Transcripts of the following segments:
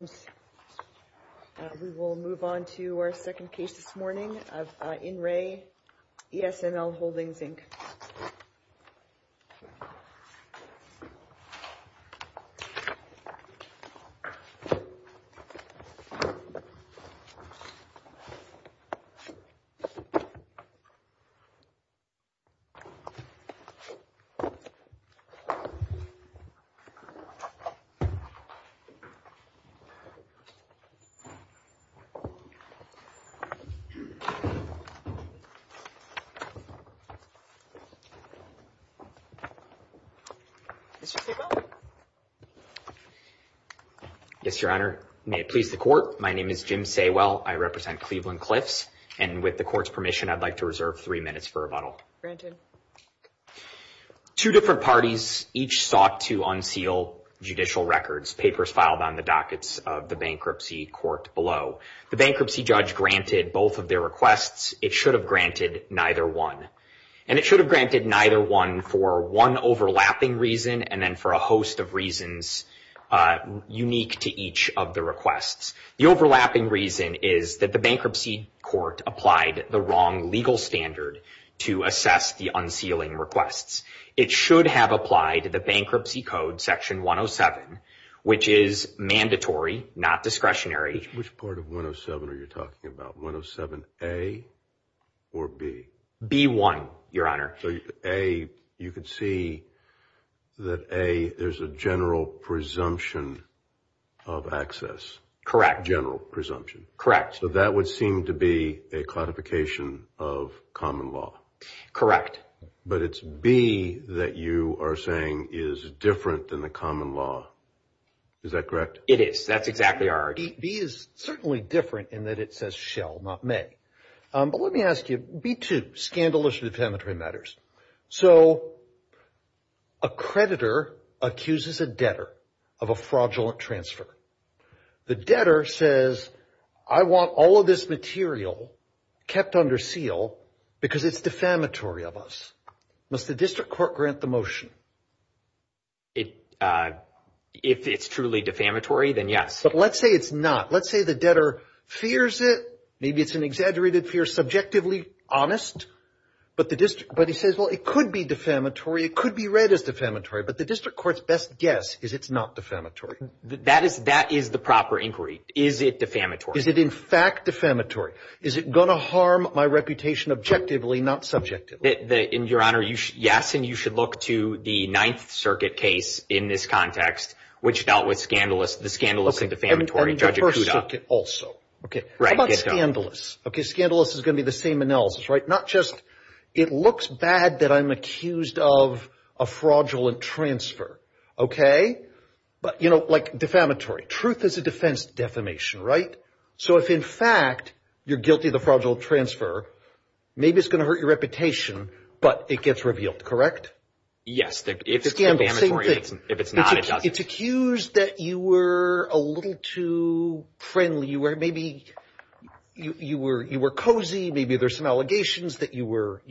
We will move on to our second case this morning of Inre-ESML Holdings Inc. Jim Saywell, I represent Cleveland Cliffs, and with the court's permission, I'd like to reserve three minutes for rebuttal. Two different parties each sought to unseal judicial records. The bankruptcy judge granted both of their requests. It should have granted neither one. And it should have granted neither one for one overlapping reason and then for a host of reasons unique to each of the requests. The overlapping reason is that the bankruptcy court applied the wrong legal standard to assess the unsealing requests. It should have applied the Bankruptcy Code Section 107, which is mandatory, not discretionary. Which part of 107 are you talking about, 107A or B? B-1, Your Honor. You can see that A, there's a general presumption of access. Correct. General presumption. Correct. So that would seem to be a codification of common law. Correct. But it's B that you are saying is different than the common law. Is that correct? It is. That's exactly our argument. B is certainly different in that it says shall, not may. But let me ask you, B-2, scandalous defamatory matters. So a creditor accuses a debtor of a fraudulent transfer. The debtor says, I want all of this material kept under seal because it's defamatory of us. Must the district court grant the motion? If it's truly defamatory, then yes. But let's say it's not. Let's say the debtor fears it, maybe it's an exaggerated fear, subjectively honest. But he says, well, it could be defamatory, it could be read as defamatory. But the district court's best guess is it's not defamatory. That is the proper inquiry. Is it defamatory? Is it in fact defamatory? Is it going to harm my reputation objectively, not subjectively? Your Honor, yes. And you should look to the Ninth Circuit case in this context, which dealt with the scandalous and defamatory, Judge Acuda. And the First Circuit also. How about scandalous? Scandalous is going to be the same analysis, right? Not just, it looks bad that I'm accused of a fraudulent transfer, okay? But, you know, like defamatory. Truth is a defense to defamation, right? So if in fact you're guilty of the fraudulent transfer, maybe it's going to hurt your reputation, but it gets revealed, correct? Yes. If it's defamatory, if it's not, it doesn't. It's accused that you were a little too friendly, you were cozy, maybe there's some allegations that you were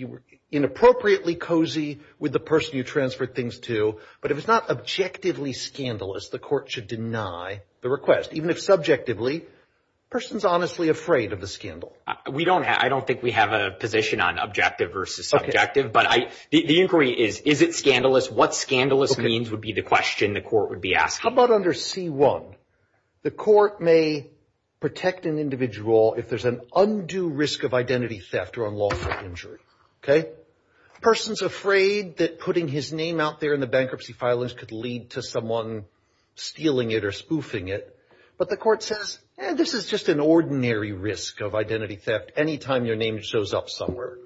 inappropriately cozy with the person you transferred things to. But if it's not objectively scandalous, the court should deny the request. Even if subjectively, the person's honestly afraid of the scandal. We don't, I don't think we have a position on objective versus subjective, but the inquiry is, is it scandalous? What scandalous means would be the question the court would be asking. How about under C-1? The court may protect an individual if there's an undue risk of identity theft or unlawful injury, okay? Person's afraid that putting his name out there in the bankruptcy filings could lead to someone stealing it or spoofing it. But the court says, eh, this is just an ordinary risk of identity theft. Anytime your name shows up somewhere,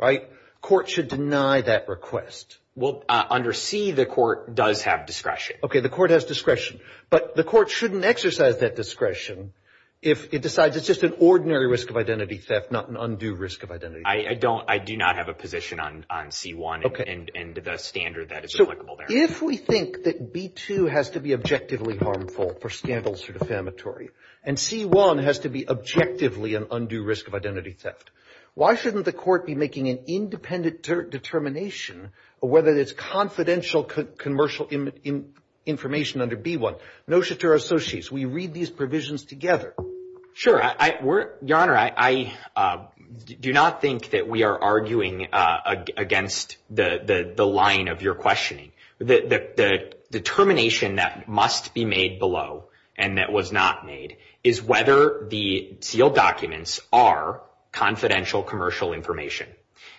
right? Court should deny that request. Well, under C, the court does have discretion. Okay, the court has discretion, but the court shouldn't exercise that discretion if it decides it's just an ordinary risk of identity theft, not an undue risk of identity theft. I don't, I do not have a position on C-1 and the standard that is applicable there. If we think that B-2 has to be objectively harmful for scandals or defamatory, and C-1 has to be objectively an undue risk of identity theft, why shouldn't the court be making an independent determination, whether it's confidential commercial information under B-1? Notice to our associates, we read these provisions together. Sure, Your Honor, I do not think that we are arguing against the line of your questioning. The determination that must be made below and that was not made is whether the sealed documents are confidential commercial information.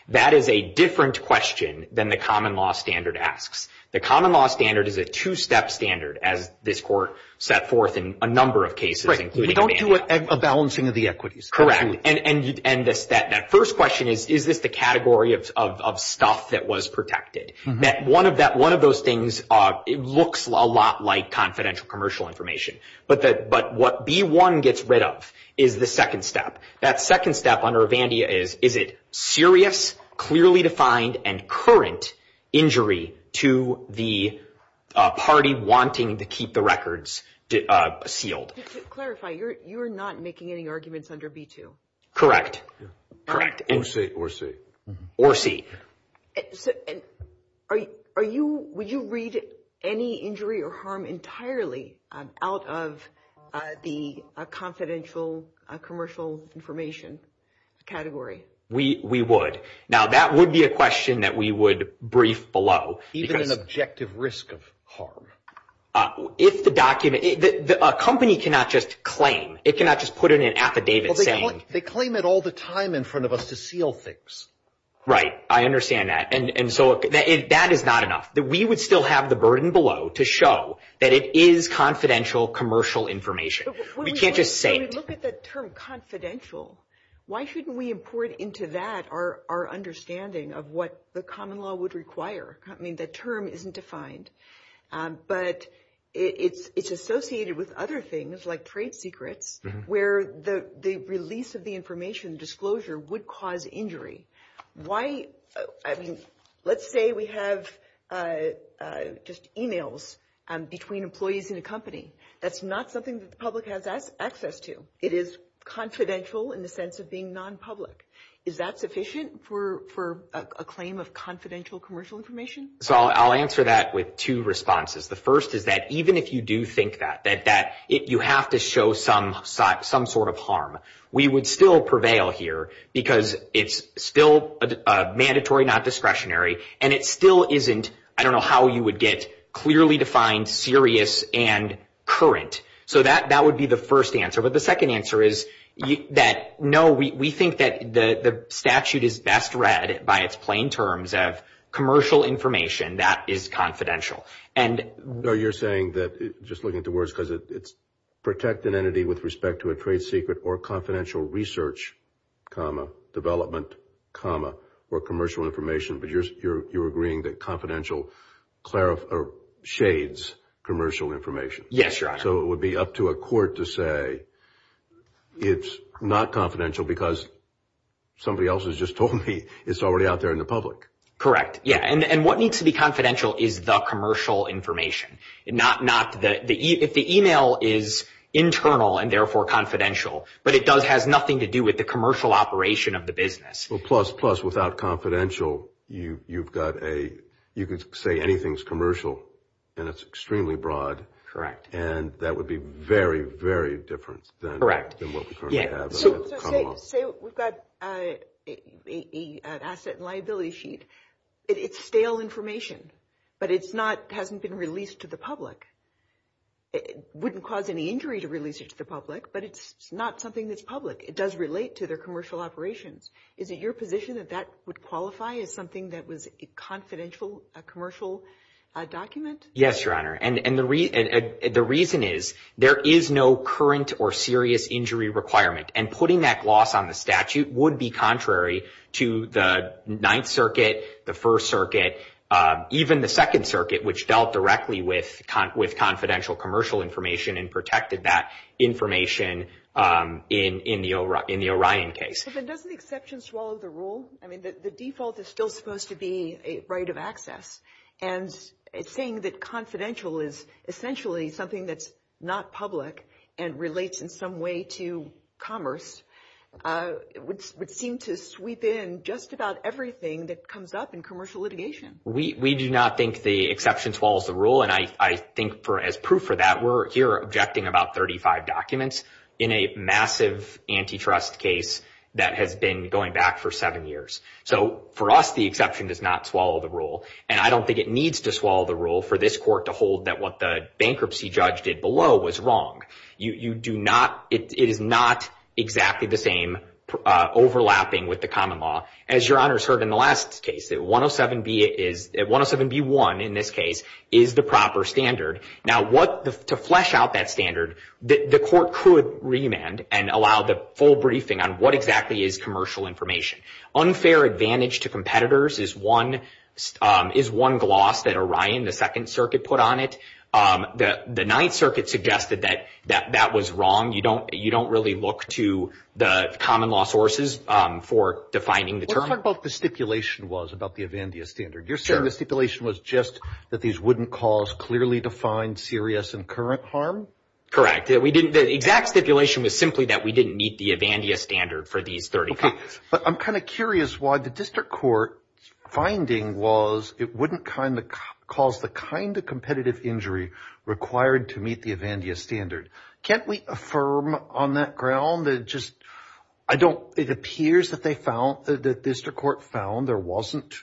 That is a different question than the common law standard asks. The common law standard is a two-step standard, as this court set forth in a number of cases, including Avandia. We don't do a balancing of the equities. And that first question is, is this the category of stuff that was protected? One of those things, it looks a lot like confidential commercial information, but what B-1 gets rid of is the second step. That second step under Avandia is, is it serious, clearly defined, and current injury to the party wanting to keep the records sealed? To clarify, you're not making any arguments under B-2? Correct, correct. Or C, or C. Or C. Would you read any injury or harm entirely out of the confidential commercial information category? We would. Now, that would be a question that we would brief below. Even an objective risk of harm? If the document, a company cannot just claim. It cannot just put in an affidavit saying. They claim it all the time in front of us to seal things. Right, I understand that. And so that is not enough. We would still have the burden below to show that it is confidential commercial information. We can't just say it. When we look at the term confidential, why shouldn't we import into that our understanding of what the common law would require? I mean, the term isn't defined. But it's associated with other things like trade secrets, where the release of the information, disclosure, would cause injury. Why, I mean, let's say we have just emails between employees in a company. That's not something that the public has access to. It is confidential in the sense of being non-public. Is that sufficient for a claim of confidential commercial information? So I'll answer that with two responses. The first is that even if you do think that, that you have to show some sort of harm, we would still prevail here because it's still mandatory, not discretionary. And it still isn't, I don't know how you would get clearly defined serious and current. So that would be the first answer. But the second answer is that no, we think that the statute is best read by its plain terms of commercial information that is confidential. And you're saying that, just looking at the words, because it's protect an entity with respect to a trade secret or confidential research, development, or commercial information. But you're agreeing that confidential shades commercial information. Yes, Your Honor. So it would be up to a court to say it's not confidential because somebody else has just told me it's already out there in the public. Yeah. And what needs to be confidential is the commercial information. If the email is internal and therefore confidential, but it has nothing to do with the commercial operation of the business. Well, plus, plus, without confidential, you could say anything's commercial and it's extremely broad. Correct. And that would be very, very different than what we currently have coming up. Say we've got an asset and liability sheet. It's stale information, but it's not, hasn't been released to the public. It wouldn't cause any injury to release it to the public, but it's not something that's public. It does relate to their commercial operations. Is it your position that that would qualify as something that was a confidential commercial document? Yes, Your Honor. And the reason is there is no current or serious injury requirement. And putting that gloss on the statute would be contrary to the Ninth Circuit, the First Circuit, even the Second Circuit, which dealt directly with confidential commercial information and protected that information in the Orion case. But doesn't exception swallow the rule? I mean, the default is still supposed to be a right of access. And it's saying that confidential is essentially something that's not public and relates in some way to commerce, which would seem to sweep in just about everything that comes up in commercial litigation. We do not think the exception swallows the rule. And I think as proof for that, we're here objecting about 35 documents in a massive antitrust case that has been going back for seven years. So for us, the exception does not swallow the rule. And I don't think it needs to swallow the rule for this court to hold that what the bankruptcy judge did below was wrong. You do not, it is not exactly the same overlapping with the common law. As your honors heard in the last case, that 107B1 in this case is the proper standard. Now, to flesh out that standard, the court could remand and allow the full briefing on what exactly is commercial information. Unfair advantage to competitors is one gloss that Orion, the Second Circuit, put on it. The Ninth Circuit suggested that that was wrong. You don't really look to the common law sources for defining the term. Let's talk about what the stipulation was about the Evandia standard. You're saying the stipulation was just that these wouldn't cause clearly defined serious and current harm? Correct. We didn't, the exact stipulation was simply that we didn't meet the Evandia standard for these 30 copies. But I'm kind of curious why the district court finding was it wouldn't cause the kind of required to meet the Evandia standard. Can't we affirm on that ground that just, I don't, it appears that they found, the district court found there wasn't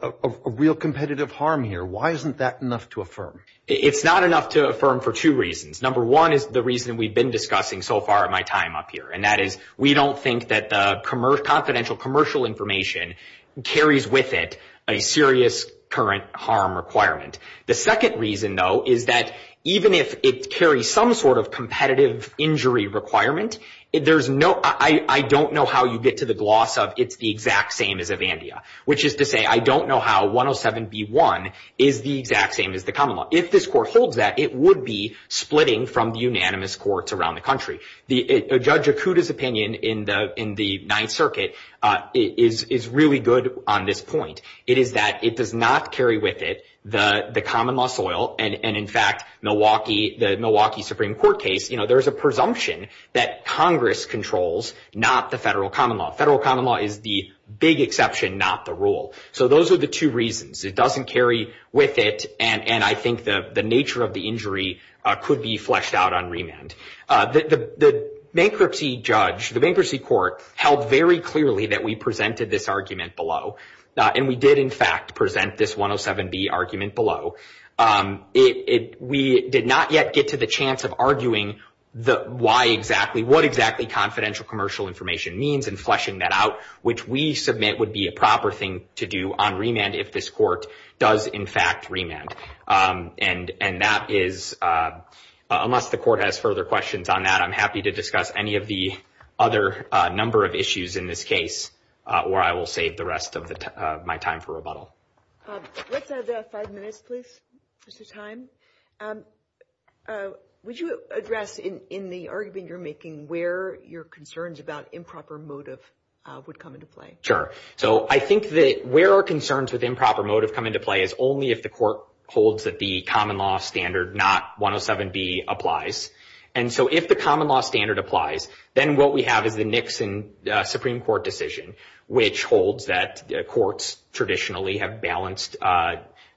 a real competitive harm here. Why isn't that enough to affirm? It's not enough to affirm for two reasons. Number one is the reason we've been discussing so far in my time up here, and that is we don't think that the confidential commercial information carries with it a serious current harm requirement. The second reason, though, is that even if it carries some sort of competitive injury requirement, there's no, I don't know how you get to the gloss of it's the exact same as Evandia, which is to say, I don't know how 107B1 is the exact same as the common law. If this court holds that, it would be splitting from the unanimous courts around the country. Judge Akuta's opinion in the Ninth Circuit is really good on this point. It is that it does not carry with it the common law soil, and in fact, the Milwaukee Supreme Court case, there's a presumption that Congress controls, not the federal common law. Federal common law is the big exception, not the rule. So those are the two reasons. It doesn't carry with it, and I think the nature of the injury could be fleshed out on remand. The bankruptcy judge, the bankruptcy court, held very clearly that we presented this argument below, and we did, in fact, present this 107B argument below. We did not yet get to the chance of arguing what exactly confidential commercial information means and fleshing that out, which we submit would be a proper thing to do on remand if this court does, in fact, remand. And that is, unless the court has further questions on that, I'm happy to discuss any of the other number of issues in this case where I will save the rest of my time for rebuttal. Let's have five minutes, please, Mr. Time. Would you address in the argument you're making where your concerns about improper motive would come into play? Sure. So I think that where our concerns with improper motive come into play is only if the court holds that the common law standard, not 107B, applies. And so if the common law standard applies, then what we have is the Nixon Supreme Court decision, which holds that courts traditionally have balanced,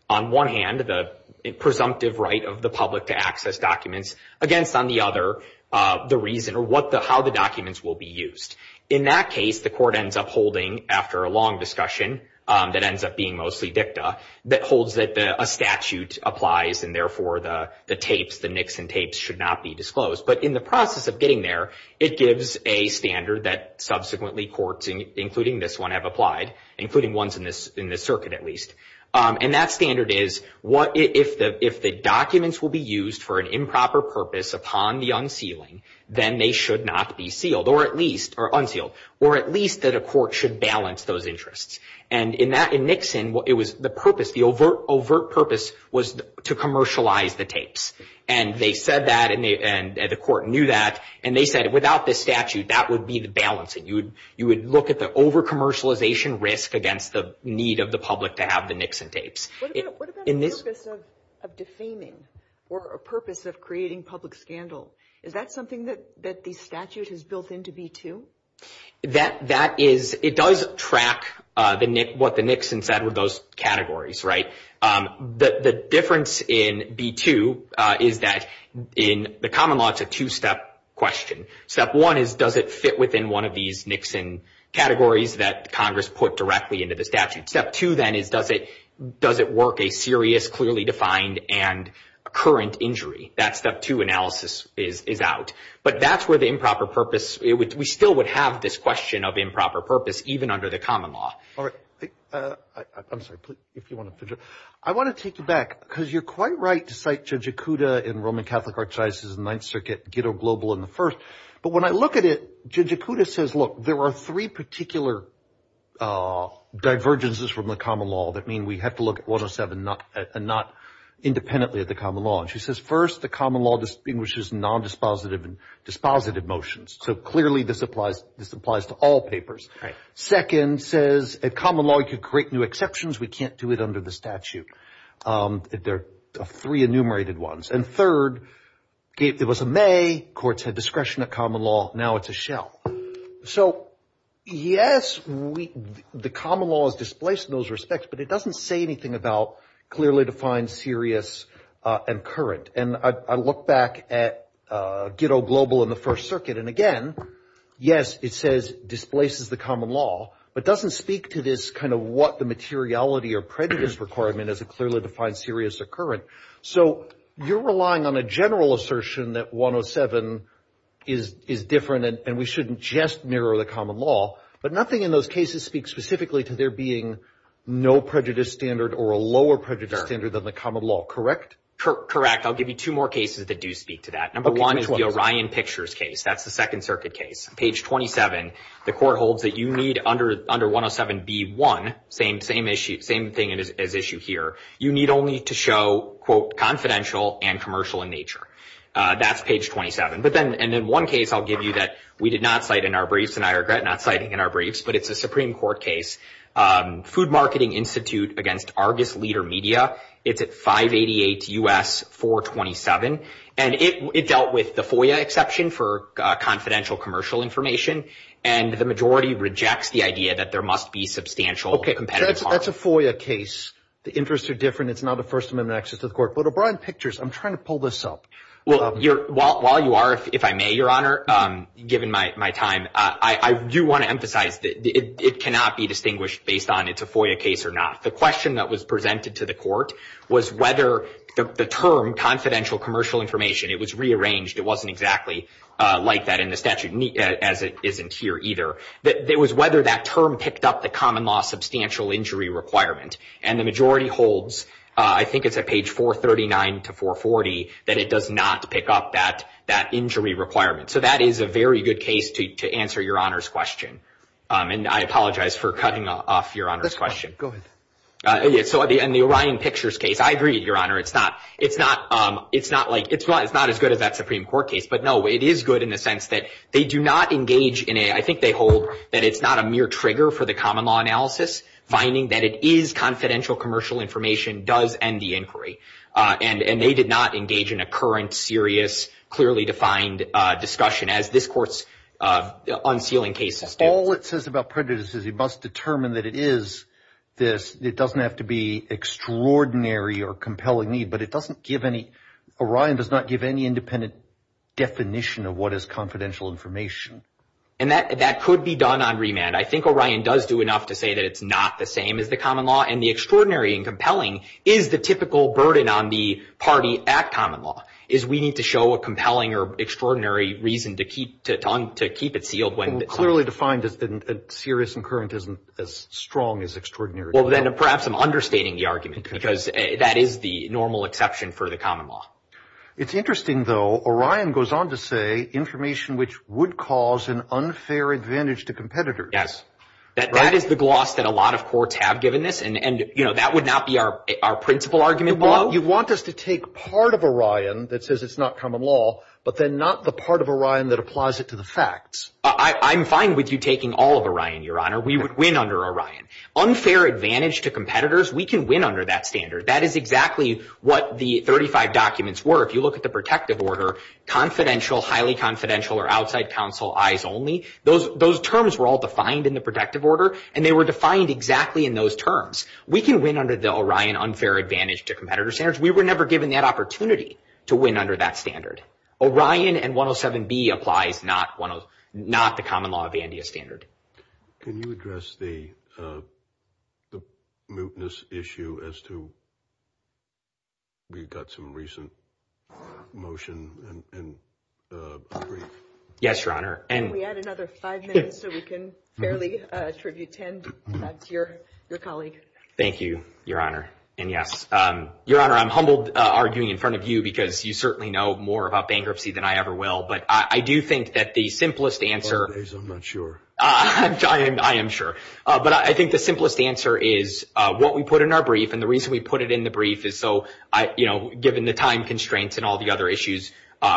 on one hand, the presumptive right of the public to access documents against, on the other, the reason or how the documents will be used. In that case, the court ends up holding, after a long discussion that ends up being mostly dicta, that holds that a statute applies, and therefore the tapes, the Nixon tapes, should not be disclosed. But in the process of getting there, it gives a standard that subsequently courts, including this one, have applied, including ones in this circuit, at least. And that standard is, if the documents will be used for an improper purpose upon the unsealing, then they should not be sealed, or at least, or unsealed, or at least that a court should balance those interests. And in Nixon, it was the purpose, the overt purpose was to commercialize the tapes. And they said that, and the court knew that, and they said, without this statute, that would be the balance. And you would look at the over-commercialization risk against the need of the public to have the Nixon tapes. What about the purpose of defaming, or a purpose of creating public scandal? Is that something that the statute has built into B-2? That is, it does track what the Nixon said with those categories, right? The difference in B-2 is that, in the common law, it's a two-step question. Step one is, does it fit within one of these Nixon categories that Congress put directly into the statute? Step two, then, is does it work a serious, clearly defined, and current injury? That step two analysis is out. But that's where the improper purpose, we still would have this question of improper purpose, even under the common law. All right. I'm sorry, if you want to finish up. I want to take you back, because you're quite right to cite Judge Acuda in Roman Catholic Archivist's Ninth Circuit, Ghetto Global, in the first. But when I look at it, Judge Acuda says, look, there are three particular divergences from the common law that mean we have to look at 107 and not independently at the common law. And she says, first, the common law distinguishes nondispositive and dispositive motions. So clearly, this applies to all papers. Second says, at common law, you could create new exceptions. We can't do it under the statute. There are three enumerated ones. And third, it was a may. Courts had discretion at common law. Now it's a shell. So yes, the common law is displaced in those respects. But it doesn't say anything about clearly defined, serious, and current. And I look back at Ghetto Global in the First Circuit. And again, yes, it says displaces the common law, but doesn't speak to this kind of what the materiality or prejudice requirement as a clearly defined, serious, or current. So you're relying on a general assertion that 107 is different, and we shouldn't just narrow the common law. But nothing in those cases speaks specifically to there being no prejudice standard or a lower prejudice standard than the common law, correct? Correct. I'll give you two more cases that do speak to that. Number one is the Orion Pictures case. That's the Second Circuit case. Page 27, the court holds that you need under 107b1, same thing as issue here, you need only to show, quote, confidential and commercial in nature. That's page 27. But then in one case, I'll give you that we did not cite in our briefs. And I regret not citing in our briefs. But it's a Supreme Court case, Food Marketing Institute against Argus Leader Media. It's at 588 U.S. 427. And it dealt with the FOIA exception for confidential commercial information. And the majority rejects the idea that there must be substantial competitive part. That's a FOIA case. The interests are different. It's not a First Amendment access to the court. But Orion Pictures, I'm trying to pull this up. Well, while you are, if I may, Your Honor, given my time, I do want to emphasize that it cannot be distinguished based on it's a FOIA case or not. The question that was presented to the court was whether the term confidential commercial information, it was rearranged. It wasn't exactly like that in the statute, as it isn't here either. It was whether that term picked up the common law substantial injury requirement. And the majority holds, I think it's at page 439 to 440, that it does not pick up that injury requirement. So that is a very good case to answer Your Honor's question. And I apologize for cutting off Your Honor's question. Go ahead. So in the Orion Pictures case, I agree, Your Honor. It's not as good as that Supreme Court case. But no, it is good in the sense that they do not engage in a, I think they hold that it's not a mere trigger for the common law analysis. Finding that it is confidential commercial information does end the inquiry. And they did not engage in a current, serious, clearly defined discussion as this court's unsealing case. All it says about prejudice is you must determine that it is this. It doesn't have to be extraordinary or compelling need. But it doesn't give any, Orion does not give any independent definition of what is confidential information. And that could be done on remand. I think Orion does do enough to say that it's not the same as the common law. And the extraordinary and compelling is the typical burden on the party at common law, is we need to show a compelling or extraordinary reason to keep it sealed. Clearly defined as serious and current isn't as strong as extraordinary. Well, then perhaps I'm understating the argument because that is the normal exception for the common law. It's interesting, though, Orion goes on to say information which would cause an unfair advantage to competitors. Yes, that is the gloss that a lot of courts have given this. And, you know, that would not be our principal argument. You want us to take part of Orion that says it's not common law, but then not the part of Orion that applies it to the facts. I'm fine with you taking all of Orion, Your Honor. We would win under Orion. Unfair advantage to competitors, we can win under that standard. That is exactly what the 35 documents were. If you look at the protective order, confidential, highly confidential, or outside counsel, eyes only, those terms were all defined in the protective order, and they were defined exactly in those terms. We can win under the Orion unfair advantage to competitor standards. We were never given that opportunity to win under that standard. Orion and 107B applies not the common law of the NDS standard. Can you address the mootness issue as to we've got some recent motion and brief? Yes, Your Honor. Can we add another five minutes so we can fairly attribute 10 to your colleague? Thank you, Your Honor. And yes, Your Honor, I'm humbled arguing in front of you because you certainly know more about bankruptcy than I ever will. But I do think that the simplest answer— I'm not sure. I am sure. But I think the simplest answer is what we put in our brief, and the reason we put it in the brief is so, you know, given the time constraints and all the other issues,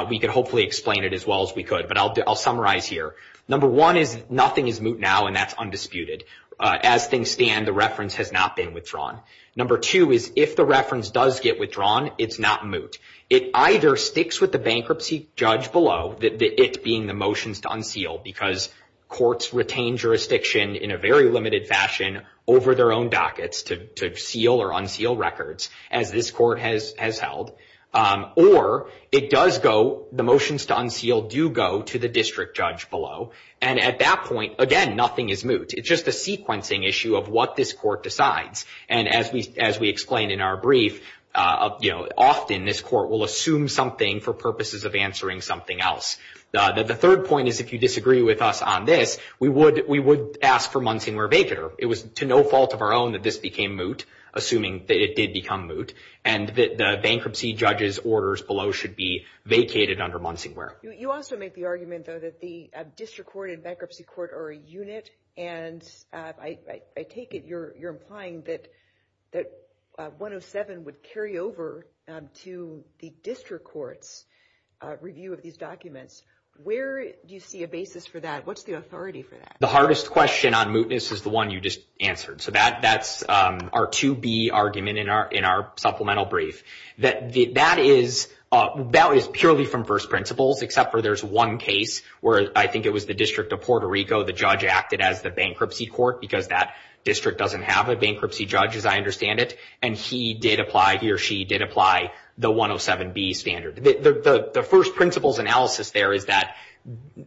we could hopefully explain it as well as we could. But I'll summarize here. Number one is nothing is moot now, and that's undisputed. As things stand, the reference has not been withdrawn. Number two is if the reference does get withdrawn, it's not moot. It either sticks with the bankruptcy judge below, it being the motions to unseal because courts retain jurisdiction in a very limited fashion over their own dockets to seal or unseal records, as this court has held, or it does go—the motions to unseal do go to the district judge below. And at that point, again, nothing is moot. It's just a sequencing issue of what this court decides. And as we explained in our brief, you know, often this court will assume something for purposes of answering something else. The third point is if you disagree with us on this, we would ask for Munsingware vacater. It was to no fault of our own that this became moot, assuming that it did become moot, and that the bankruptcy judge's orders below should be vacated under Munsingware. You also make the argument, though, that the district court and bankruptcy court are a And I take it you're implying that 107 would carry over to the district court's review of these documents. Where do you see a basis for that? What's the authority for that? The hardest question on mootness is the one you just answered. So that's our 2B argument in our supplemental brief. That is purely from first principles, except for there's one case where I think it was the district of Puerto Rico. The judge acted as the bankruptcy court because that district doesn't have a bankruptcy judge, as I understand it. And he did apply, he or she did apply the 107B standard. The first principles analysis there is that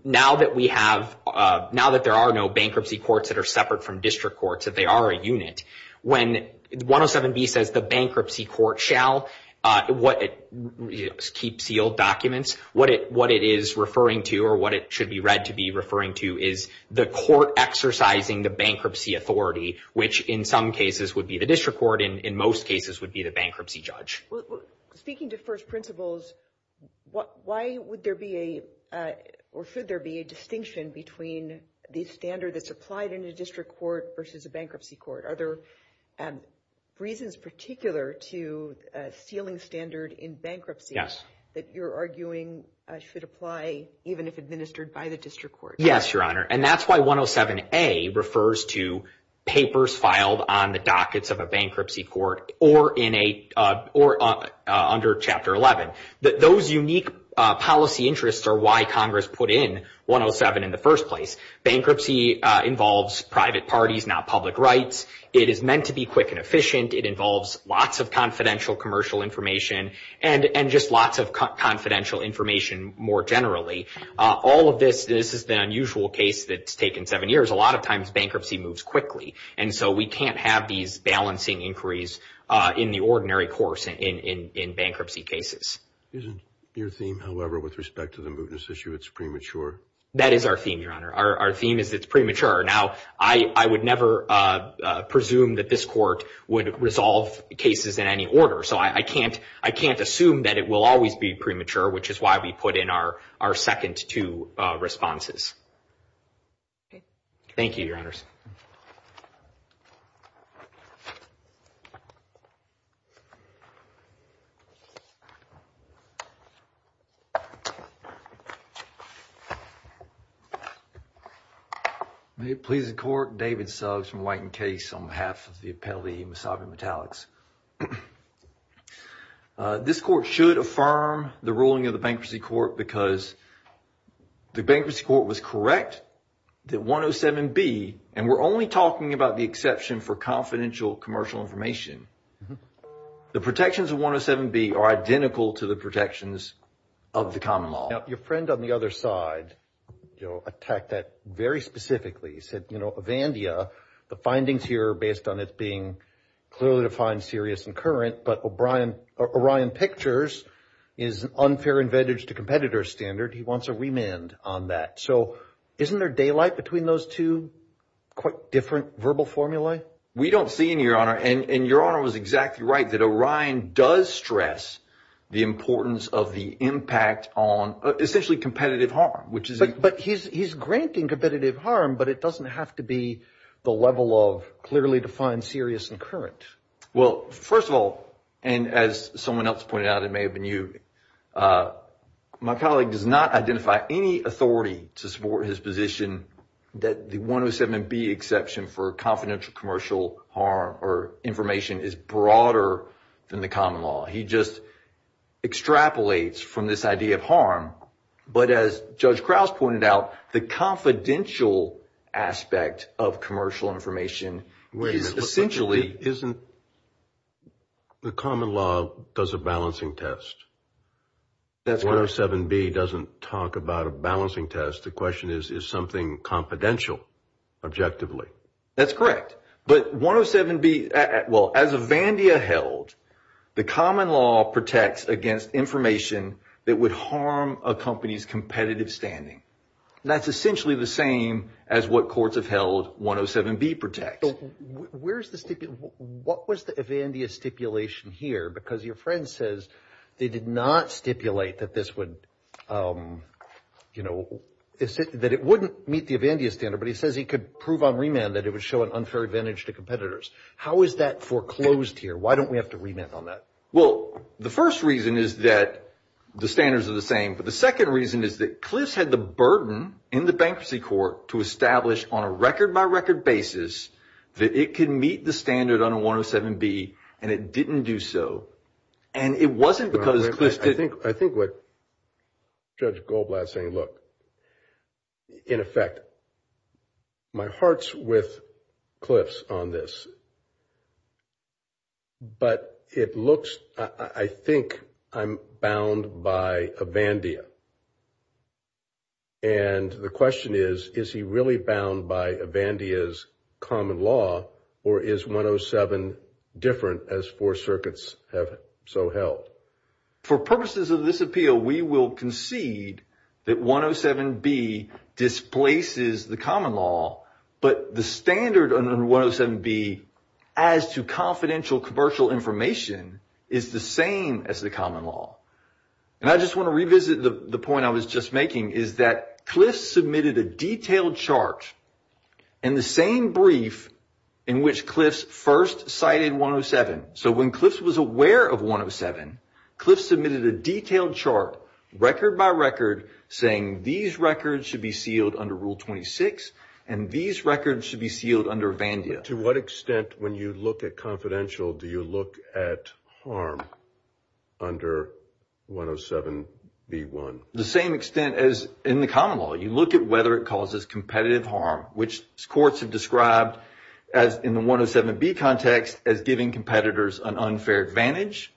now that we have, now that there are no bankruptcy courts that are separate from district courts, that they are a unit, when 107B says the bankruptcy court shall keep sealed documents, what it is referring to or what it should be read to be referring to is the court exercising the bankruptcy authority, which in some cases would be the district court and in most cases would be the bankruptcy judge. Speaking to first principles, why would there be a, or should there be a distinction between the standard that's applied in a district court versus a bankruptcy court? Are there reasons particular to sealing standard in bankruptcy that you're arguing should apply even if administered by the district court? Yes, Your Honor. And that's why 107A refers to papers filed on the dockets of a bankruptcy court or in a, or under chapter 11. Those unique policy interests are why Congress put in 107 in the first place. Bankruptcy involves private parties, not public rights. It is meant to be quick and efficient. It involves lots of confidential commercial information and just lots of confidential information more generally. All of this, this is the unusual case that's taken seven years. A lot of times bankruptcy moves quickly. And so we can't have these balancing inquiries in the ordinary course in bankruptcy cases. Isn't your theme, however, with respect to the mootness issue, it's premature? That is our theme, Your Honor. Our theme is it's premature. Now, I would never presume that this court would resolve cases in any order. So I can't, I can't assume that it will always be premature, which is why we put in our second two responses. Okay. Thank you, Your Honors. May it please the court. David Suggs from White and Case on behalf of the appellee, Misabi Metallics. Uh, this court should affirm the ruling of the bankruptcy court because the bankruptcy court was correct that 107B, and we're only talking about the exception for confidential commercial information. The protections of 107B are identical to the protections of the common law. Now, your friend on the other side, you know, attacked that very specifically. He said, you know, Avandia, the findings here are based on it being clearly defined serious and current, but O'Brien, Orion Pictures is unfair advantage to competitor standard. He wants a remand on that. So isn't there daylight between those two quite different verbal formulae? We don't see any, Your Honor. And, and Your Honor was exactly right that Orion does stress the importance of the impact on essentially competitive harm, which is. But he's, he's granting competitive harm, but it doesn't have to be the level of clearly defined serious and current. Well, first of all, and as someone else pointed out, it may have been you. Uh, my colleague does not identify any authority to support his position that the 107B exception for confidential commercial harm or information is broader than the common law. He just extrapolates from this idea of harm. But as Judge Krause pointed out, the confidential aspect of commercial information is essentially. Isn't the common law does a balancing test? That's 107B doesn't talk about a balancing test. The question is, is something confidential objectively? That's correct. But 107B, well, as Avandia held, the common law protects against information that would harm a company's competitive standing. That's essentially the same as what courts have held 107B protects. Where's the stipulation? What was the Avandia stipulation here? Because your friend says they did not stipulate that this would, um, you know, that it wouldn't meet the Avandia standard. But he says he could prove on remand that it would show an unfair advantage to competitors. How is that foreclosed here? Why don't we have to remand on that? Well, the first reason is that the standards are the same. But the second reason is that Cliffs had the burden in the bankruptcy court to establish on a record by record basis that it can meet the standard on a 107B and it didn't do so. And it wasn't because Cliffs didn't. I think what Judge Goldblatt's saying, look, in effect, my heart's with Cliffs on this. But it looks, I think I'm bound by Avandia. And the question is, is he really bound by Avandia's common law or is 107 different as four circuits have so held? For purposes of this appeal, we will concede that 107B displaces the common law, but the as to confidential commercial information is the same as the common law. And I just want to revisit the point I was just making is that Cliffs submitted a detailed chart in the same brief in which Cliffs first cited 107. So when Cliffs was aware of 107, Cliffs submitted a detailed chart record by record saying these records should be sealed under Rule 26 and these records should be sealed under Avandia. To what extent, when you look at confidential, do you look at harm under 107B1? The same extent as in the common law. You look at whether it causes competitive harm, which courts have described as in the 107B context as giving competitors an unfair advantage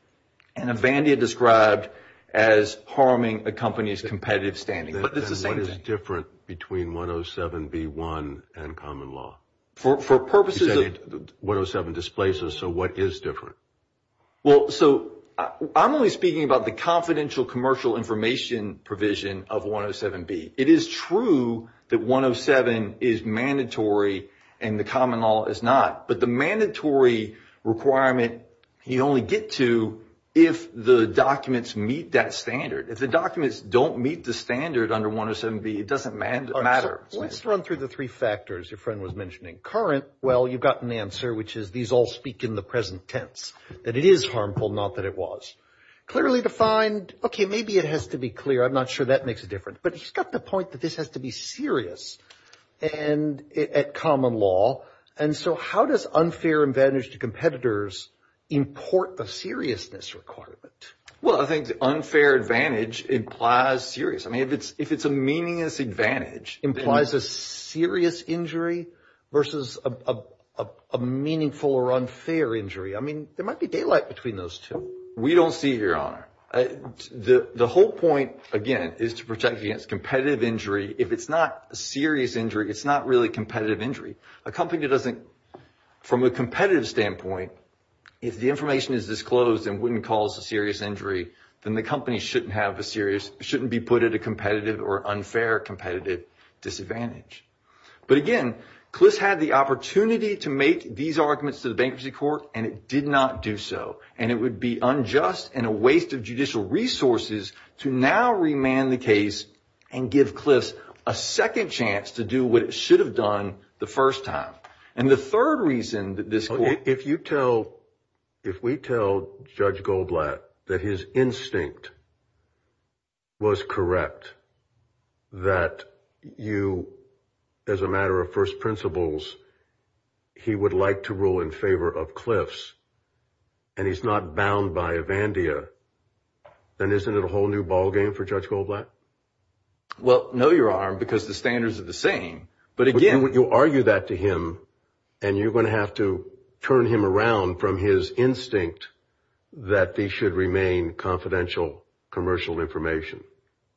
and Avandia described as harming a company's competitive standing. But it's the same thing. What is different between 107B1 and common law? For purposes of... You said 107 displaces, so what is different? Well, so I'm only speaking about the confidential commercial information provision of 107B. It is true that 107 is mandatory and the common law is not. But the mandatory requirement, you only get to if the documents meet that standard. If the documents don't meet the standard under 107B, it doesn't matter. Let's run through the three factors your friend was mentioning. Current, well, you've got an answer, which is these all speak in the present tense, that it is harmful, not that it was. Clearly defined, okay, maybe it has to be clear. I'm not sure that makes a difference. But he's got the point that this has to be serious and at common law. And so how does unfair advantage to competitors import the seriousness requirement? Well, I think the unfair advantage implies serious. If it's a meaningless advantage... Implies a serious injury versus a meaningful or unfair injury. I mean, there might be daylight between those two. We don't see it, your honor. The whole point, again, is to protect against competitive injury. If it's not a serious injury, it's not really competitive injury. A company that doesn't... From a competitive standpoint, if the information is disclosed and wouldn't cause a serious injury, then the company shouldn't have a serious... Shouldn't be put at a competitive or unfair competitive disadvantage. But again, Cliffs had the opportunity to make these arguments to the bankruptcy court, and it did not do so. And it would be unjust and a waste of judicial resources to now remand the case and give Cliffs a second chance to do what it should have done the first time. And the third reason that this court... If you tell... If we tell Judge Goldblatt that his instinct was correct, that you, as a matter of first principles, he would like to rule in favor of Cliffs, and he's not bound by Evandia, then isn't it a whole new ballgame for Judge Goldblatt? Well, no, your honor, because the standards are the same. But again... You argue that to him, and you're going to have to turn him around from his instinct that they should remain confidential commercial information.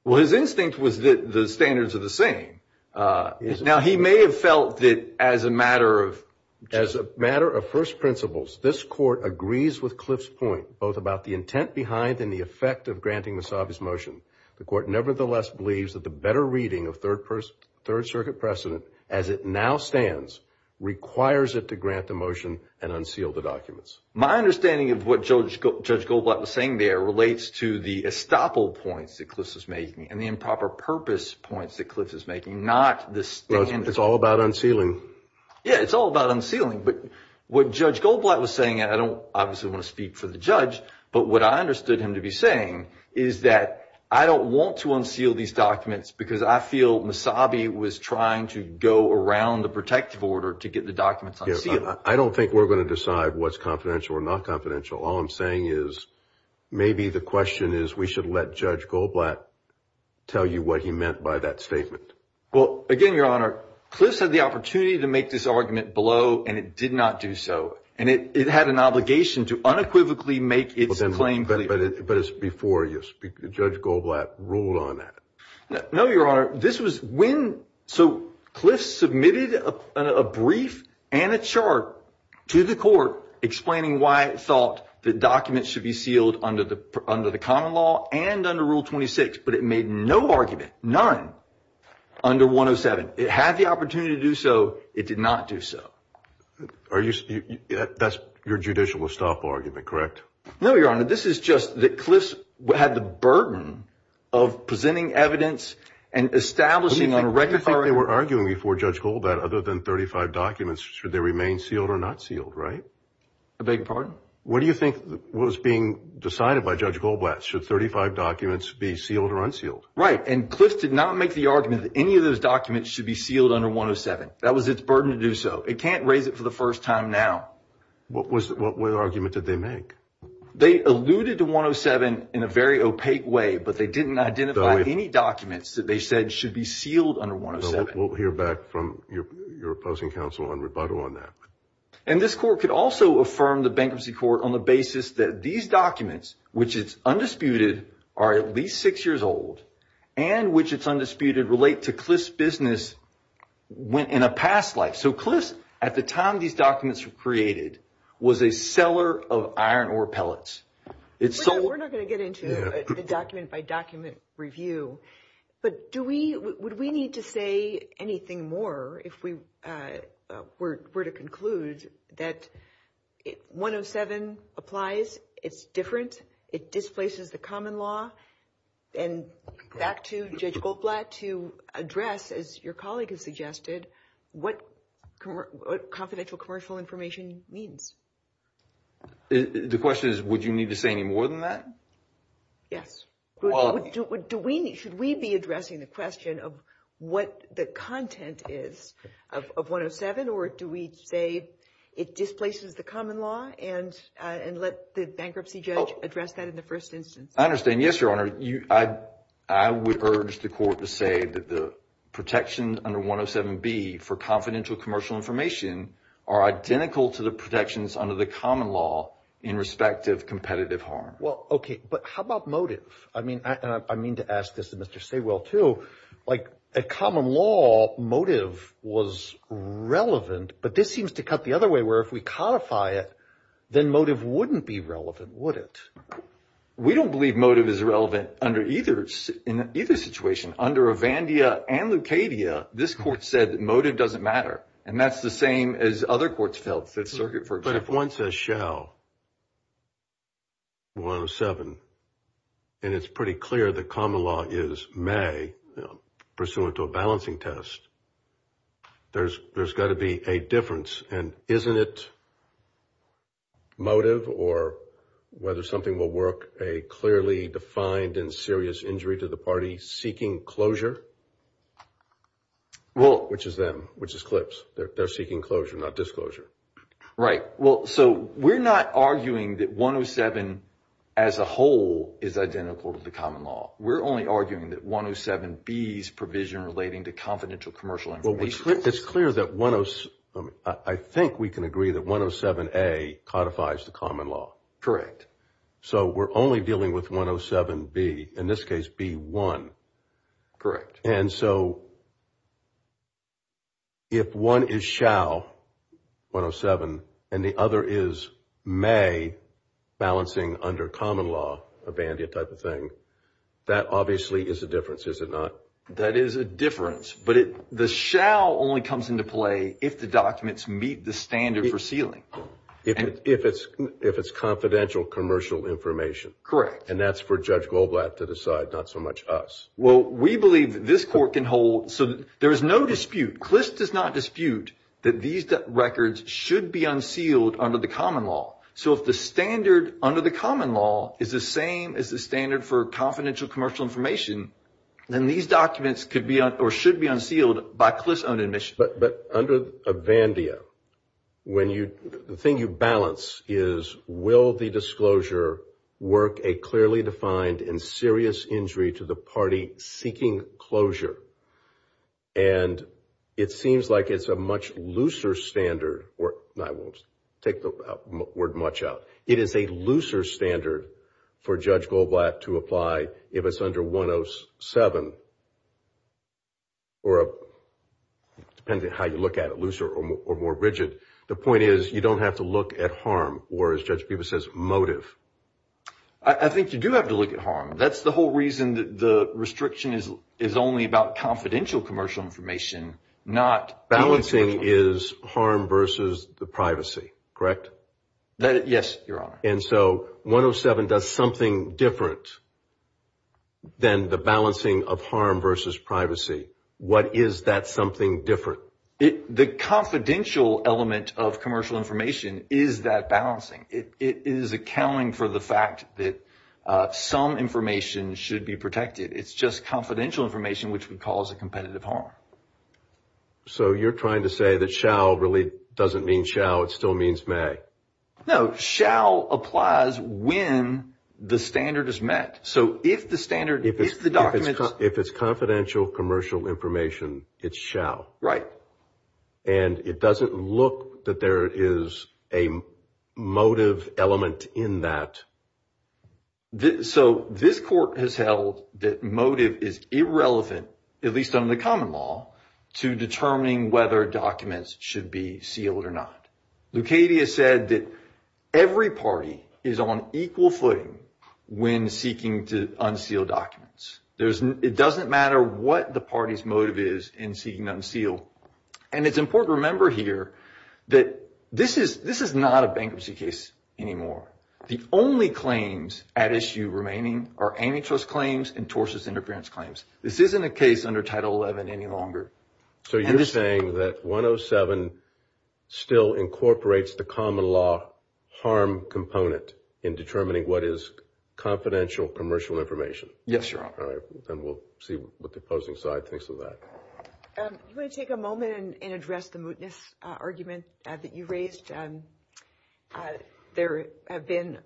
Well, his instinct was that the standards are the same. Now, he may have felt that as a matter of... As a matter of first principles, this court agrees with Cliffs' point, both about the intent behind and the effect of granting Massabi's motion. The court nevertheless believes that the better reading of third person... Third circuit precedent, as it now stands, requires it to grant the motion and unseal the documents. My understanding of what Judge Goldblatt was saying there relates to the estoppel points that Cliffs is making, and the improper purpose points that Cliffs is making, not the standards. It's all about unsealing. Yeah, it's all about unsealing. But what Judge Goldblatt was saying, and I don't obviously want to speak for the judge, but what I understood him to be saying is that I don't want to unseal these documents because I feel Massabi was trying to go around the protective order to get the documents unsealed. I don't think we're going to decide what's confidential or not confidential. All I'm saying is, maybe the question is, we should let Judge Goldblatt tell you what he meant by that statement. Well, again, Your Honor, Cliffs had the opportunity to make this argument below, and it did not do so. And it had an obligation to unequivocally make its claim. But it's before you speak. Judge Goldblatt ruled on that. No, Your Honor. This was when... So Cliffs submitted a brief and a chart to the court explaining why it thought the documents should be sealed under the common law and under Rule 26, but it made no argument, none, under 107. It had the opportunity to do so. It did not do so. That's your judicial stop argument, correct? No, Your Honor. This is just that Cliffs had the burden of presenting evidence and establishing... What do you think they were arguing before, Judge Goldblatt, other than 35 documents, should they remain sealed or not sealed, right? I beg your pardon? What do you think was being decided by Judge Goldblatt? Should 35 documents be sealed or unsealed? Right, and Cliffs did not make the argument that any of those documents should be sealed under 107. That was its burden to do so. It can't raise it for the first time now. What argument did they make? They alluded to 107 in a very opaque way, but they didn't identify any documents that they said should be sealed under 107. We'll hear back from your opposing counsel on rebuttal on that. And this court could also affirm the bankruptcy court on the basis that these documents, which it's undisputed, are at least six years old, and which it's undisputed relate to Cliffs' business in a past life. Cliffs, at the time these documents were created, was a seller of iron ore pellets. We're not going to get into the document-by-document review, but would we need to say anything more if we were to conclude that 107 applies, it's different, it displaces the common law? And back to Judge Goldblatt, to address, as your colleague has suggested, what confidential commercial information means. The question is, would you need to say any more than that? Yes. Should we be addressing the question of what the content is of 107, or do we say it displaces the common law, and let the bankruptcy judge address that in the first instance? I understand, yes, Your Honor. I would urge the court to say that the protections under 107B for confidential commercial information are identical to the protections under the common law in respect of competitive harm. Well, okay, but how about motive? I mean, and I mean to ask this of Mr. Saywell too, like a common law motive was relevant, but this seems to cut the other way, where if we codify it, then motive wouldn't be relevant, would it? We don't believe motive is relevant in either situation. Under Avandia and Lucadia, this court said motive doesn't matter, and that's the same as other courts felt, the circuit, for example. But if one says shall 107, and it's pretty clear the common law is may, pursuant to a balancing test, there's got to be a difference, and isn't it motive, or whether something will work, a clearly defined and serious injury to the party seeking closure, which is them, which is CLPS. They're seeking closure, not disclosure. Right. Well, so we're not arguing that 107 as a whole is identical to the common law. We're only arguing that 107B's provision relating to confidential commercial information. It's clear that I think we can agree that 107A codifies the common law. So we're only dealing with 107B, in this case, B1. And so if one is shall 107, and the other is may, balancing under common law, Avandia type of thing, that obviously is a difference, is it not? That is a difference. But the shall only comes into play if the documents meet the standard for sealing. If it's confidential commercial information. Correct. And that's for Judge Goldblatt to decide, not so much us. Well, we believe that this court can hold... So there is no dispute. CLPS does not dispute that these records should be unsealed under the common law. So if the standard under the common law is the same as the standard for confidential commercial information, then these documents could be or should be unsealed by CLPS own admission. But under Avandia, the thing you balance is, will the disclosure work a clearly defined and serious injury to the party seeking closure? And it seems like it's a much looser standard, or I will take the word much out. It is a looser standard for Judge Goldblatt to apply if it's under 107, or depending on how you look at it, looser or more rigid. The point is, you don't have to look at harm, or as Judge Peebas says, motive. I think you do have to look at harm. That's the whole reason that the restriction is only about confidential commercial information, not... Balancing is harm versus the privacy, correct? Yes, Your Honor. And so 107 does something different than the balancing of harm versus privacy. What is that something different? The confidential element of commercial information is that balancing. It is accounting for the fact that some information should be protected. It's just confidential information, which we call as a competitive harm. So you're trying to say that shall really doesn't mean shall, it still means may. No, shall applies when the standard is met. So if the standard, if the documents... If it's confidential commercial information, it's shall. Right. And it doesn't look that there is a motive element in that. So this court has held that motive is irrelevant, at least under the common law, to determining whether documents should be sealed or not. Lucadia said that every party is on equal footing when seeking to unseal documents. There's... It doesn't matter what the party's motive is in seeking to unseal. And it's important to remember here that this is not a bankruptcy case anymore. The only claims at issue remaining are antitrust claims and tortious interference claims. This isn't a case under Title 11 any longer. So you're saying that 107 still incorporates the common law harm component in determining what is confidential commercial information? Yes, Your Honor. And we'll see what the opposing side thinks of that. You want to take a moment and address the mootness argument that you raised? There have been,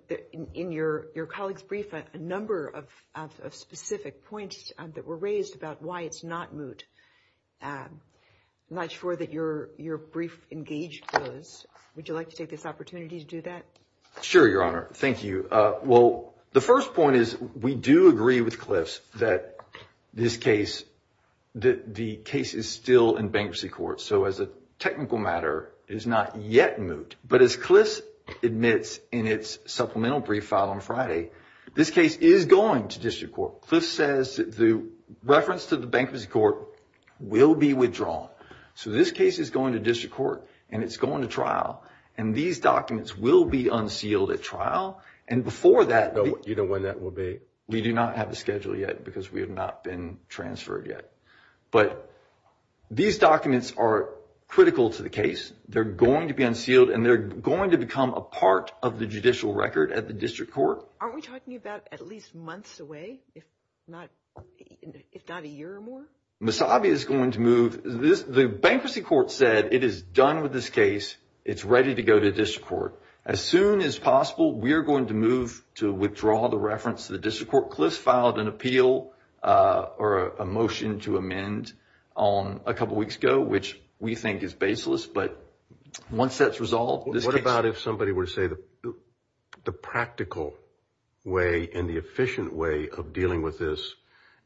in your colleague's brief, a number of specific points that were raised about why it's not moot. I'm not sure that your brief engaged those. Would you like to take this opportunity to do that? Sure, Your Honor. Thank you. Well, the first point is we do agree with Cliffs that the case is still in bankruptcy court. So as a technical matter, it is not yet moot. But as Cliffs admits in its supplemental brief file on Friday, this case is going to district court. Cliffs says the reference to the bankruptcy court will be withdrawn. So this case is going to district court and it's going to trial. And these documents will be unsealed at trial. And before that, you know what that will be? We do not have a schedule yet because we have not been transferred yet. But these documents are critical to the case. They're going to be unsealed and they're going to become a part of the judicial record at the district court. Aren't we talking about at least months away, if not a year or more? Misabi is going to move. The bankruptcy court said it is done with this case. It's ready to go to district court. As soon as possible, we are going to move to withdraw the reference to the district court. Cliffs filed an appeal or a motion to amend on a couple of weeks ago, which we think is baseless. But once that's resolved, this case... And the efficient way of dealing with this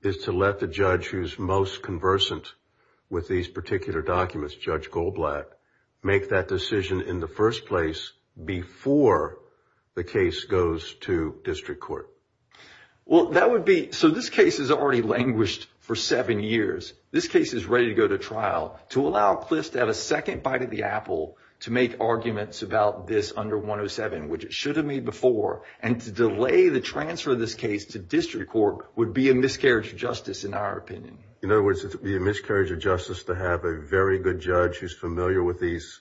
is to let the judge who's most conversant with these particular documents, Judge Goldblatt, make that decision in the first place before the case goes to district court. Well, that would be... So this case has already languished for seven years. This case is ready to go to trial to allow Cliffs to have a second bite at the apple to make arguments about this under 107, which it should have made before. And to delay the transfer of this case to district court would be a miscarriage of justice, in our opinion. In other words, it would be a miscarriage of justice to have a very good judge who's familiar with these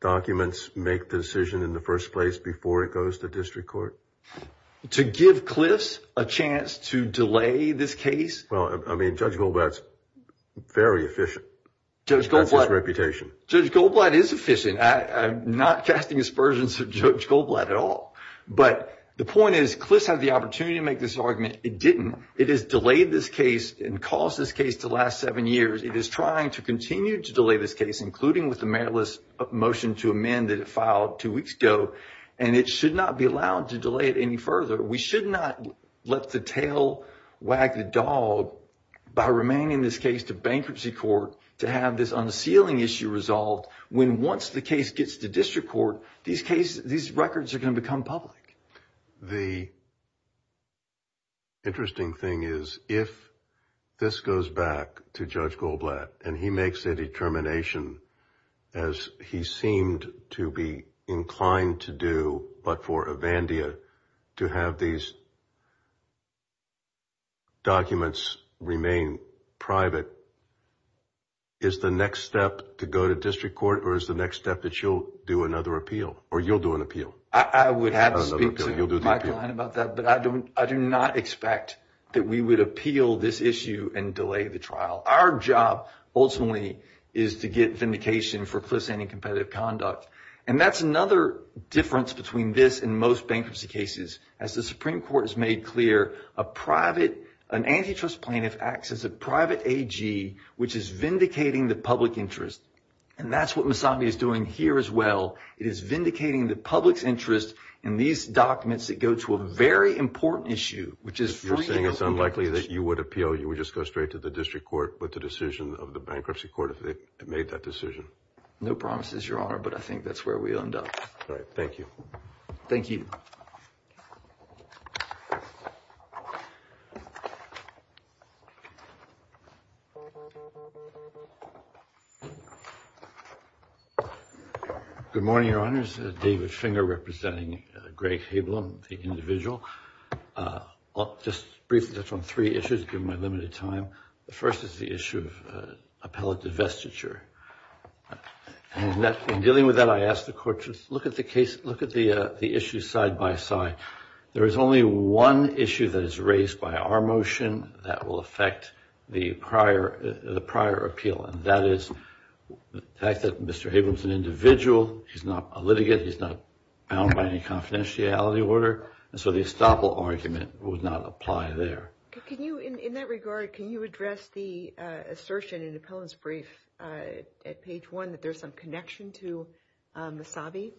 documents make the decision in the first place before it goes to district court? To give Cliffs a chance to delay this case? Well, I mean, Judge Goldblatt's very efficient. That's his reputation. Judge Goldblatt is efficient. I'm not casting aspersions of Judge Goldblatt at all. But the point is, Cliffs had the opportunity to make this argument. It didn't. It has delayed this case and caused this case to last seven years. It is trying to continue to delay this case, including with the mayoralist motion to amend that it filed two weeks ago. And it should not be allowed to delay it any further. We should not let the tail wag the dog by remaining in this case to bankruptcy court to have this unsealing issue resolved. When once the case gets to district court, these records are going to become public. The interesting thing is, if this goes back to Judge Goldblatt and he makes a determination, as he seemed to be inclined to do, but for Avandia to have these documents remain private, is the next step to go to district court? Or is the next step that you'll do another appeal? Or you'll do an appeal? I would have to speak to Mike Klein about that. But I do not expect that we would appeal this issue and delay the trial. Our job, ultimately, is to get vindication for Cliff's anti-competitive conduct. And that's another difference between this and most bankruptcy cases. As the Supreme Court has made clear, an antitrust plaintiff acts as a private AG, which is vindicating the public interest. And that's what Mosambi is doing here, as well. It is vindicating the public's interest in these documents that go to a very important issue, which is free and open. You're saying it's unlikely that you would appeal? You would just go straight to the district court with the decision of the bankruptcy court if they made that decision? No promises, Your Honor. But I think that's where we end up. All right. Thank you. Thank you. Good morning, Your Honors. David Finger, representing Greg Hablum, the individual. I'll just briefly touch on three issues, given my limited time. First is the issue of appellate divestiture. And in dealing with that, I ask the Court to look at the issue side by side. There is only one issue that is raised by our motion that will affect the prior appeal. That is the fact that Mr. Hablum is an individual. He's not a litigant. He's not bound by any confidentiality order. So the estoppel argument would not apply there. Can you, in that regard, can you address the assertion in the appellant's brief at page one that there's some connection to Mosambi?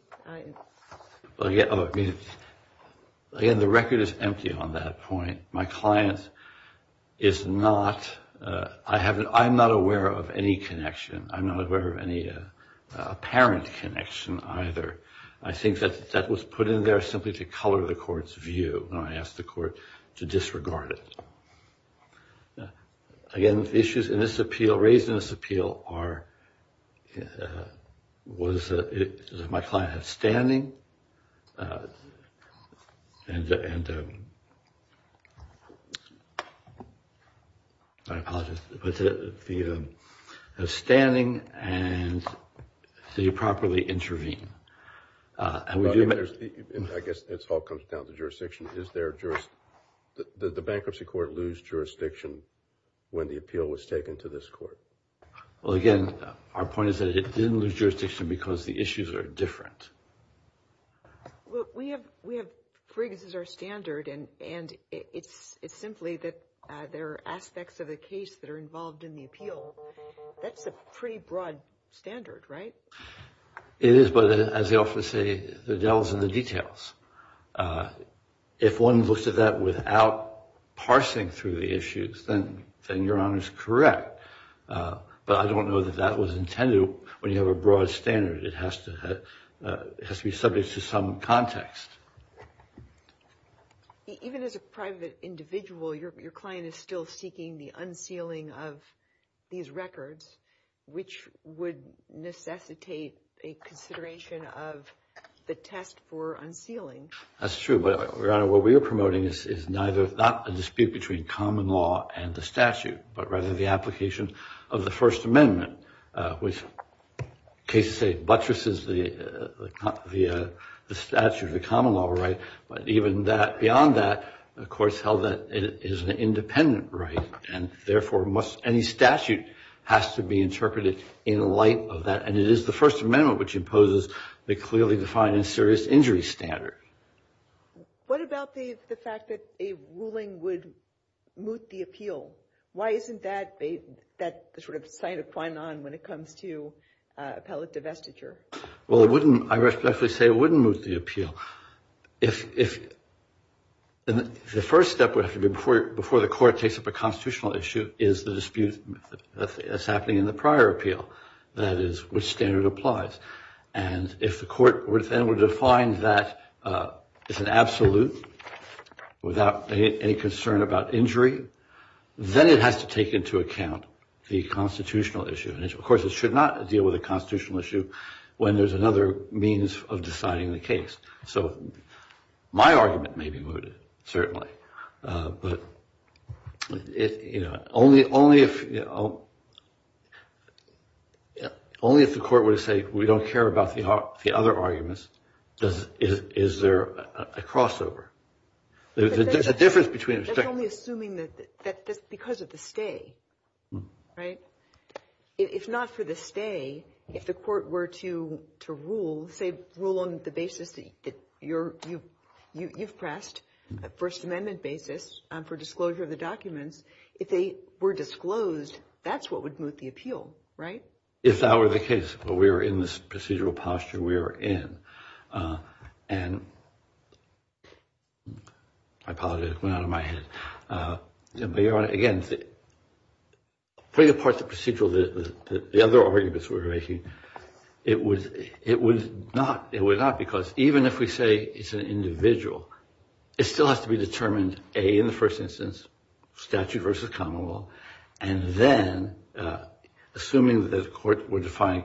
Again, the record is empty on that point. My client is not, I'm not aware of any connection. I'm not aware of any apparent connection either. I think that that was put in there simply to color the Court's view. And I ask the Court to disregard it. Again, the issues in this appeal, raised in this appeal, are, is my client standing? And, I apologize, is he standing? And did he properly intervene? I guess it all comes down to jurisdiction. Did the Bankruptcy Court lose jurisdiction when the appeal was taken to this Court? Well, again, our point is that it didn't lose jurisdiction because the issues are different. Well, we have, we have, Frigg's is our standard and, and it's, it's simply that there are aspects of the case that are involved in the appeal. That's a pretty broad standard, right? It is, but as they often say, the devil's in the details. If one looks at that without parsing through the issues, then, then Your Honor's correct. But I don't know that that was intended when you have a broad standard. It has to, it has to be subject to some context. Even as a private individual, your client is still seeking the unsealing of these records, which would necessitate a consideration of the test for unsealing. That's true, but Your Honor, what we are promoting is neither, not a dispute between common law and the statute, but rather the application of the First Amendment, which cases say buttresses the, the statute, the common law right. But even that, beyond that, the Court's held that it is an independent right and therefore must, any statute has to be interpreted in light of that. And it is the First Amendment which imposes the clearly defined and serious injury standard. What about the, the fact that a ruling would moot the appeal? Why isn't that, that the sort of sign of fine on when it comes to appellate divestiture? Well, it wouldn't, I respectfully say it wouldn't moot the appeal. If, if the first step would have to be before, before the Court takes up a constitutional issue is the dispute that's happening in the prior appeal, that is which standard applies. And if the Court would, then would define that it's an absolute without any concern about injury, then it has to take into account the constitutional issue. And of course, it should not deal with a constitutional issue when there's another means of deciding the case. So my argument may be mooted, certainly. But it, you know, only, only if, you know, only if the Court would say we don't care about the, the other arguments, does, is, is there a crossover? There's a difference between. That's only assuming that, that, that's because of the stay, right? If not for the stay, if the Court were to, to rule, say rule on the basis that you're, you, you, you've pressed a First Amendment basis for disclosure of the documents, if they were disclosed, that's what would moot the appeal, right? If that were the case, but we are in this procedural posture we are in, and I apologize, went out of my head. Again, putting apart the procedural, the other arguments we're making, it was, it was not, it was not because even if we say it's an individual, it still has to be determined, A, in the first instance, statute versus common law, and then assuming that the Court would define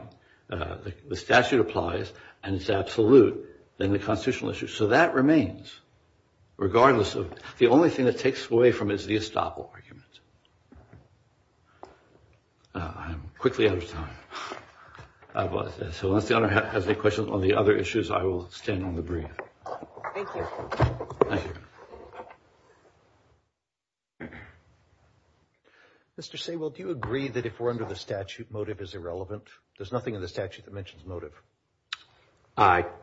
the statute applies, and it's absolute, then the constitutional issue. So that remains, regardless of, the only thing that takes away from it is the estoppel argument. I'm quickly out of time. So unless the Honor has any questions on the other issues, I will stand on the brief. Thank you. Mr. Saywell, do you agree that if we're under the statute, motive is irrelevant? There's nothing in the statute that mentions motive.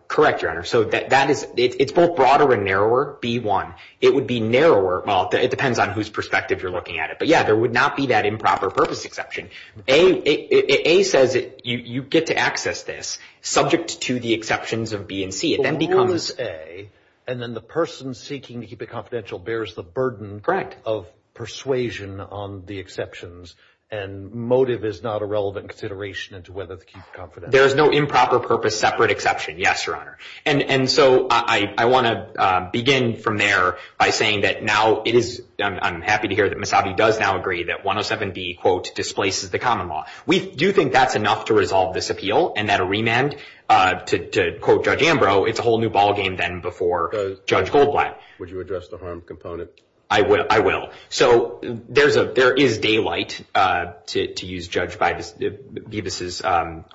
Correct, Your Honor. So that, that is, it's both broader and narrower, B-1. It would be narrower, well, it depends on whose perspective you're looking at it, but yeah, there would not be that improper purpose exception. A, A says you get to access this subject to the exceptions of B and C. It then becomes... The rule is A, and then the person seeking to keep it confidential bears the burden... ...of persuasion on the exceptions, and motive is not a relevant consideration into whether to keep it confidential. There is no improper purpose separate exception, yes, Your Honor. And, and so I, I want to begin from there by saying that now it is, I'm happy to hear that We do think that's enough to resolve this appeal, and that a remand, to, to quote Judge Ambrose, it's a whole new ballgame than before Judge Goldblatt. Would you address the harm component? I will, I will. So there's a, there is daylight, to use Judge Bevis'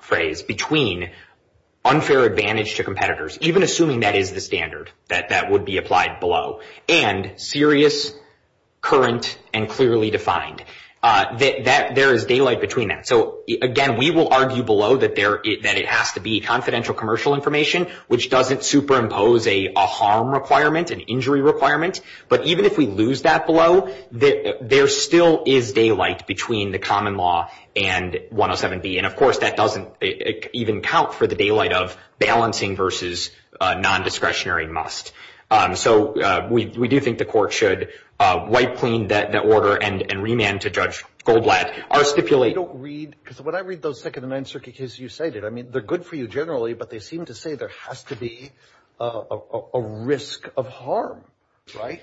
phrase, between unfair advantage to competitors, even assuming that is the standard, that, that would be applied below, and serious, current, and clearly defined. That, there is daylight between that. So again, we will argue below that there, that it has to be confidential commercial information, which doesn't superimpose a, a harm requirement, an injury requirement. But even if we lose that below, there still is daylight between the common law and 107B. And of course, that doesn't even count for the daylight of balancing versus non-discretionary must. So we, we do think the court should wipe clean that, that order and, and remand to Judge Goldblatt, or stipulate. I don't read, because when I read those second and Ninth Circuit cases, you say that, I mean, they're good for you generally, but they seem to say there has to be a, a risk of harm, right?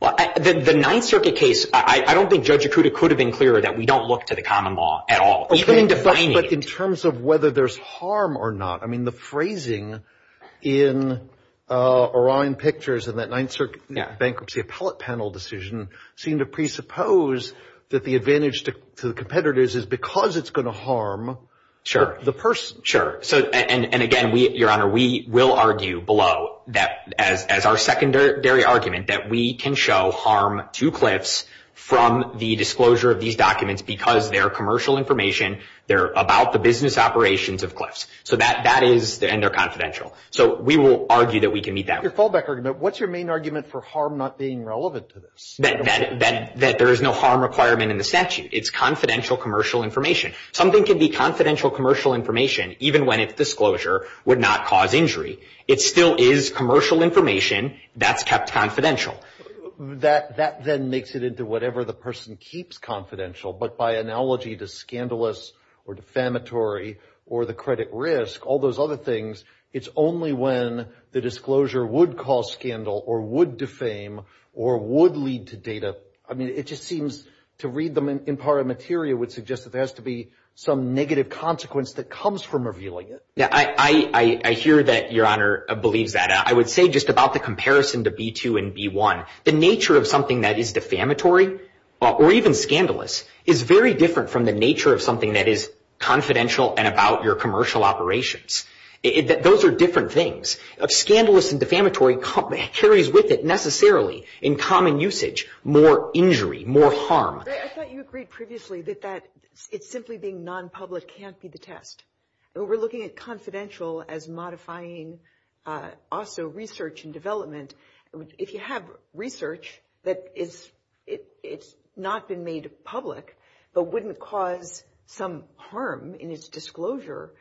Well, the, the Ninth Circuit case, I, I don't think Judge Akuta could have been clearer that we don't look to the common law at all, even in defining. But in terms of whether there's harm or not, I mean, the phrasing in Orion Pictures and that Ninth Circuit bankruptcy appellate panel decision seem to presuppose that the advantage to, to the competitors is because it's going to harm. Sure. The person. Sure. So, and, and again, we, Your Honor, we will argue below that as, as our secondary argument that we can show harm to Cliffs from the disclosure of these documents because they're commercial information. They're about the business operations of Cliffs. So that, that is, and they're confidential. So we will argue that we can meet that. Your fallback argument, what's your main argument for harm not being relevant to this? That, that, that, that there is no harm requirement in the statute. It's confidential commercial information. Something can be confidential commercial information even when it's disclosure would not cause injury. It still is commercial information that's kept confidential. That, that then makes it into whatever the person keeps confidential, but by analogy to scandalous or defamatory or the credit risk, all those other things, it's only when the disclosure would cause scandal or would defame or would lead to data. I mean, it just seems to read them in part of material would suggest that there has to be some negative consequence that comes from revealing it. Yeah, I, I, I hear that Your Honor believes that. I would say just about the comparison to B2 and B1, the nature of something that is defamatory or even scandalous is very different from the nature of something that is confidential and about your commercial operations. Those are different things. Scandalous and defamatory carries with it necessarily in common usage more injury, more harm. I thought you agreed previously that, that it's simply being non-public can't be the test. We're looking at confidential as modifying also research and development. If you have research that is, it's not been made public, but wouldn't cause some harm in its disclosure,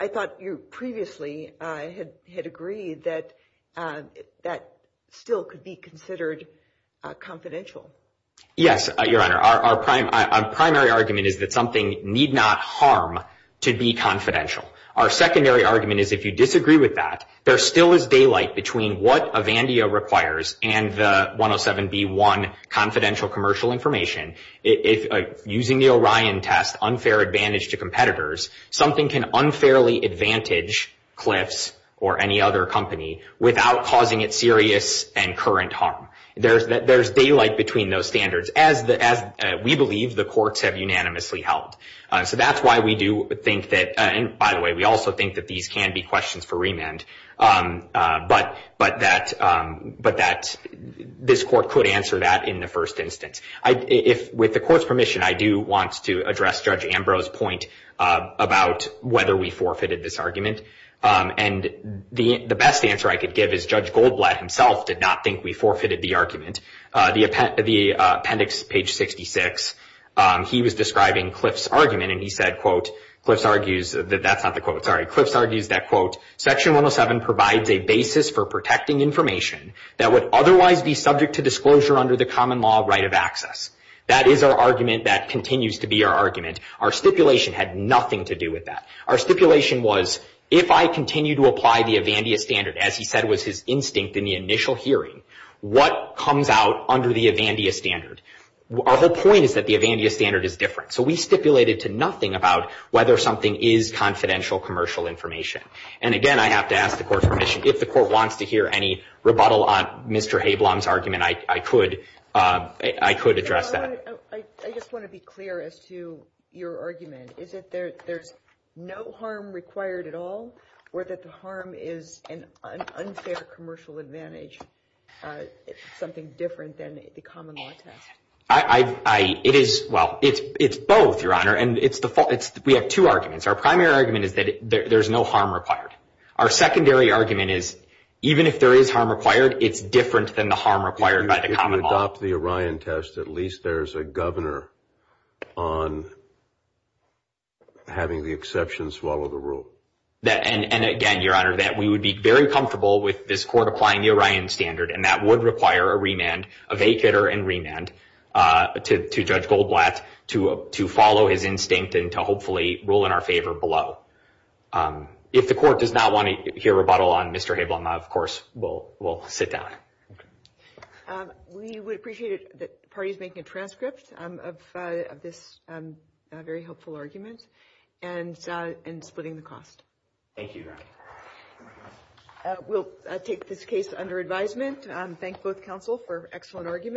I thought you previously had, had agreed that, that still could be considered confidential. Yes, Your Honor. Our, our prime, our primary argument is that something need not harm to be confidential. Our secondary argument is if you disagree with that, there still is daylight between what Avandia requires and the 107B1 confidential commercial information. If using the Orion test unfair advantage to competitors, something can unfairly advantage Cliffs or any other company without causing it serious and current harm. There's, there's daylight between those standards as the, as we believe the courts have unanimously held. So that's why we do think that, and by the way, we also think that these can be questions for remand. But, but that, but that this court could answer that in the first instance. I, if with the court's permission, I do want to address Judge Ambrose point about whether we forfeited this argument. And the, the best answer I could give is Judge Goldblatt himself did not think we forfeited the argument. The appendix, page 66, he was describing Cliffs' argument and he said, quote, Cliffs argues that, that's not the quote, sorry, Cliffs argues that, quote, section 107 provides a basis for protecting information that would otherwise be subject to disclosure under the common law right of access. That is our argument that continues to be our argument. Our stipulation had nothing to do with that. Our stipulation was if I continue to apply the Avandia standard, as he said was his instinct in the initial hearing, what comes out under the Avandia standard? Our whole point is that the Avandia standard is different. So we stipulated to nothing about whether something is confidential commercial information. And again, I have to ask the court's permission, if the court wants to hear any rebuttal on Mr. Habelom's argument, I, I could, I could address that. I, I just want to be clear as to your argument. Is it there, there's no harm required at all? Or that the harm is an unfair commercial advantage, something different than the common law test? I, I, it is, well, it's, it's both, Your Honor. And it's the fault, it's, we have two arguments. Our primary argument is that there's no harm required. Our secondary argument is, even if there is harm required, it's different than the harm required by the common law. If you adopt the Orion test, at least there's a governor on having the exception swallow the rule. That, and, and again, Your Honor, that we would be very comfortable with this court applying the Orion standard. And that would require a remand, a vacater and remand to, to Judge Goldblatt to, to follow his instinct and to hopefully rule in our favor below. If the court does not want to hear rebuttal on Mr. Habelom, of course, we'll, we'll sit down. We would appreciate it that the party's making a transcript of, of this very helpful argument and, and splitting the cost. Thank you, Your Honor. We'll take this case under advisement. Thank both counsel for excellent arguments.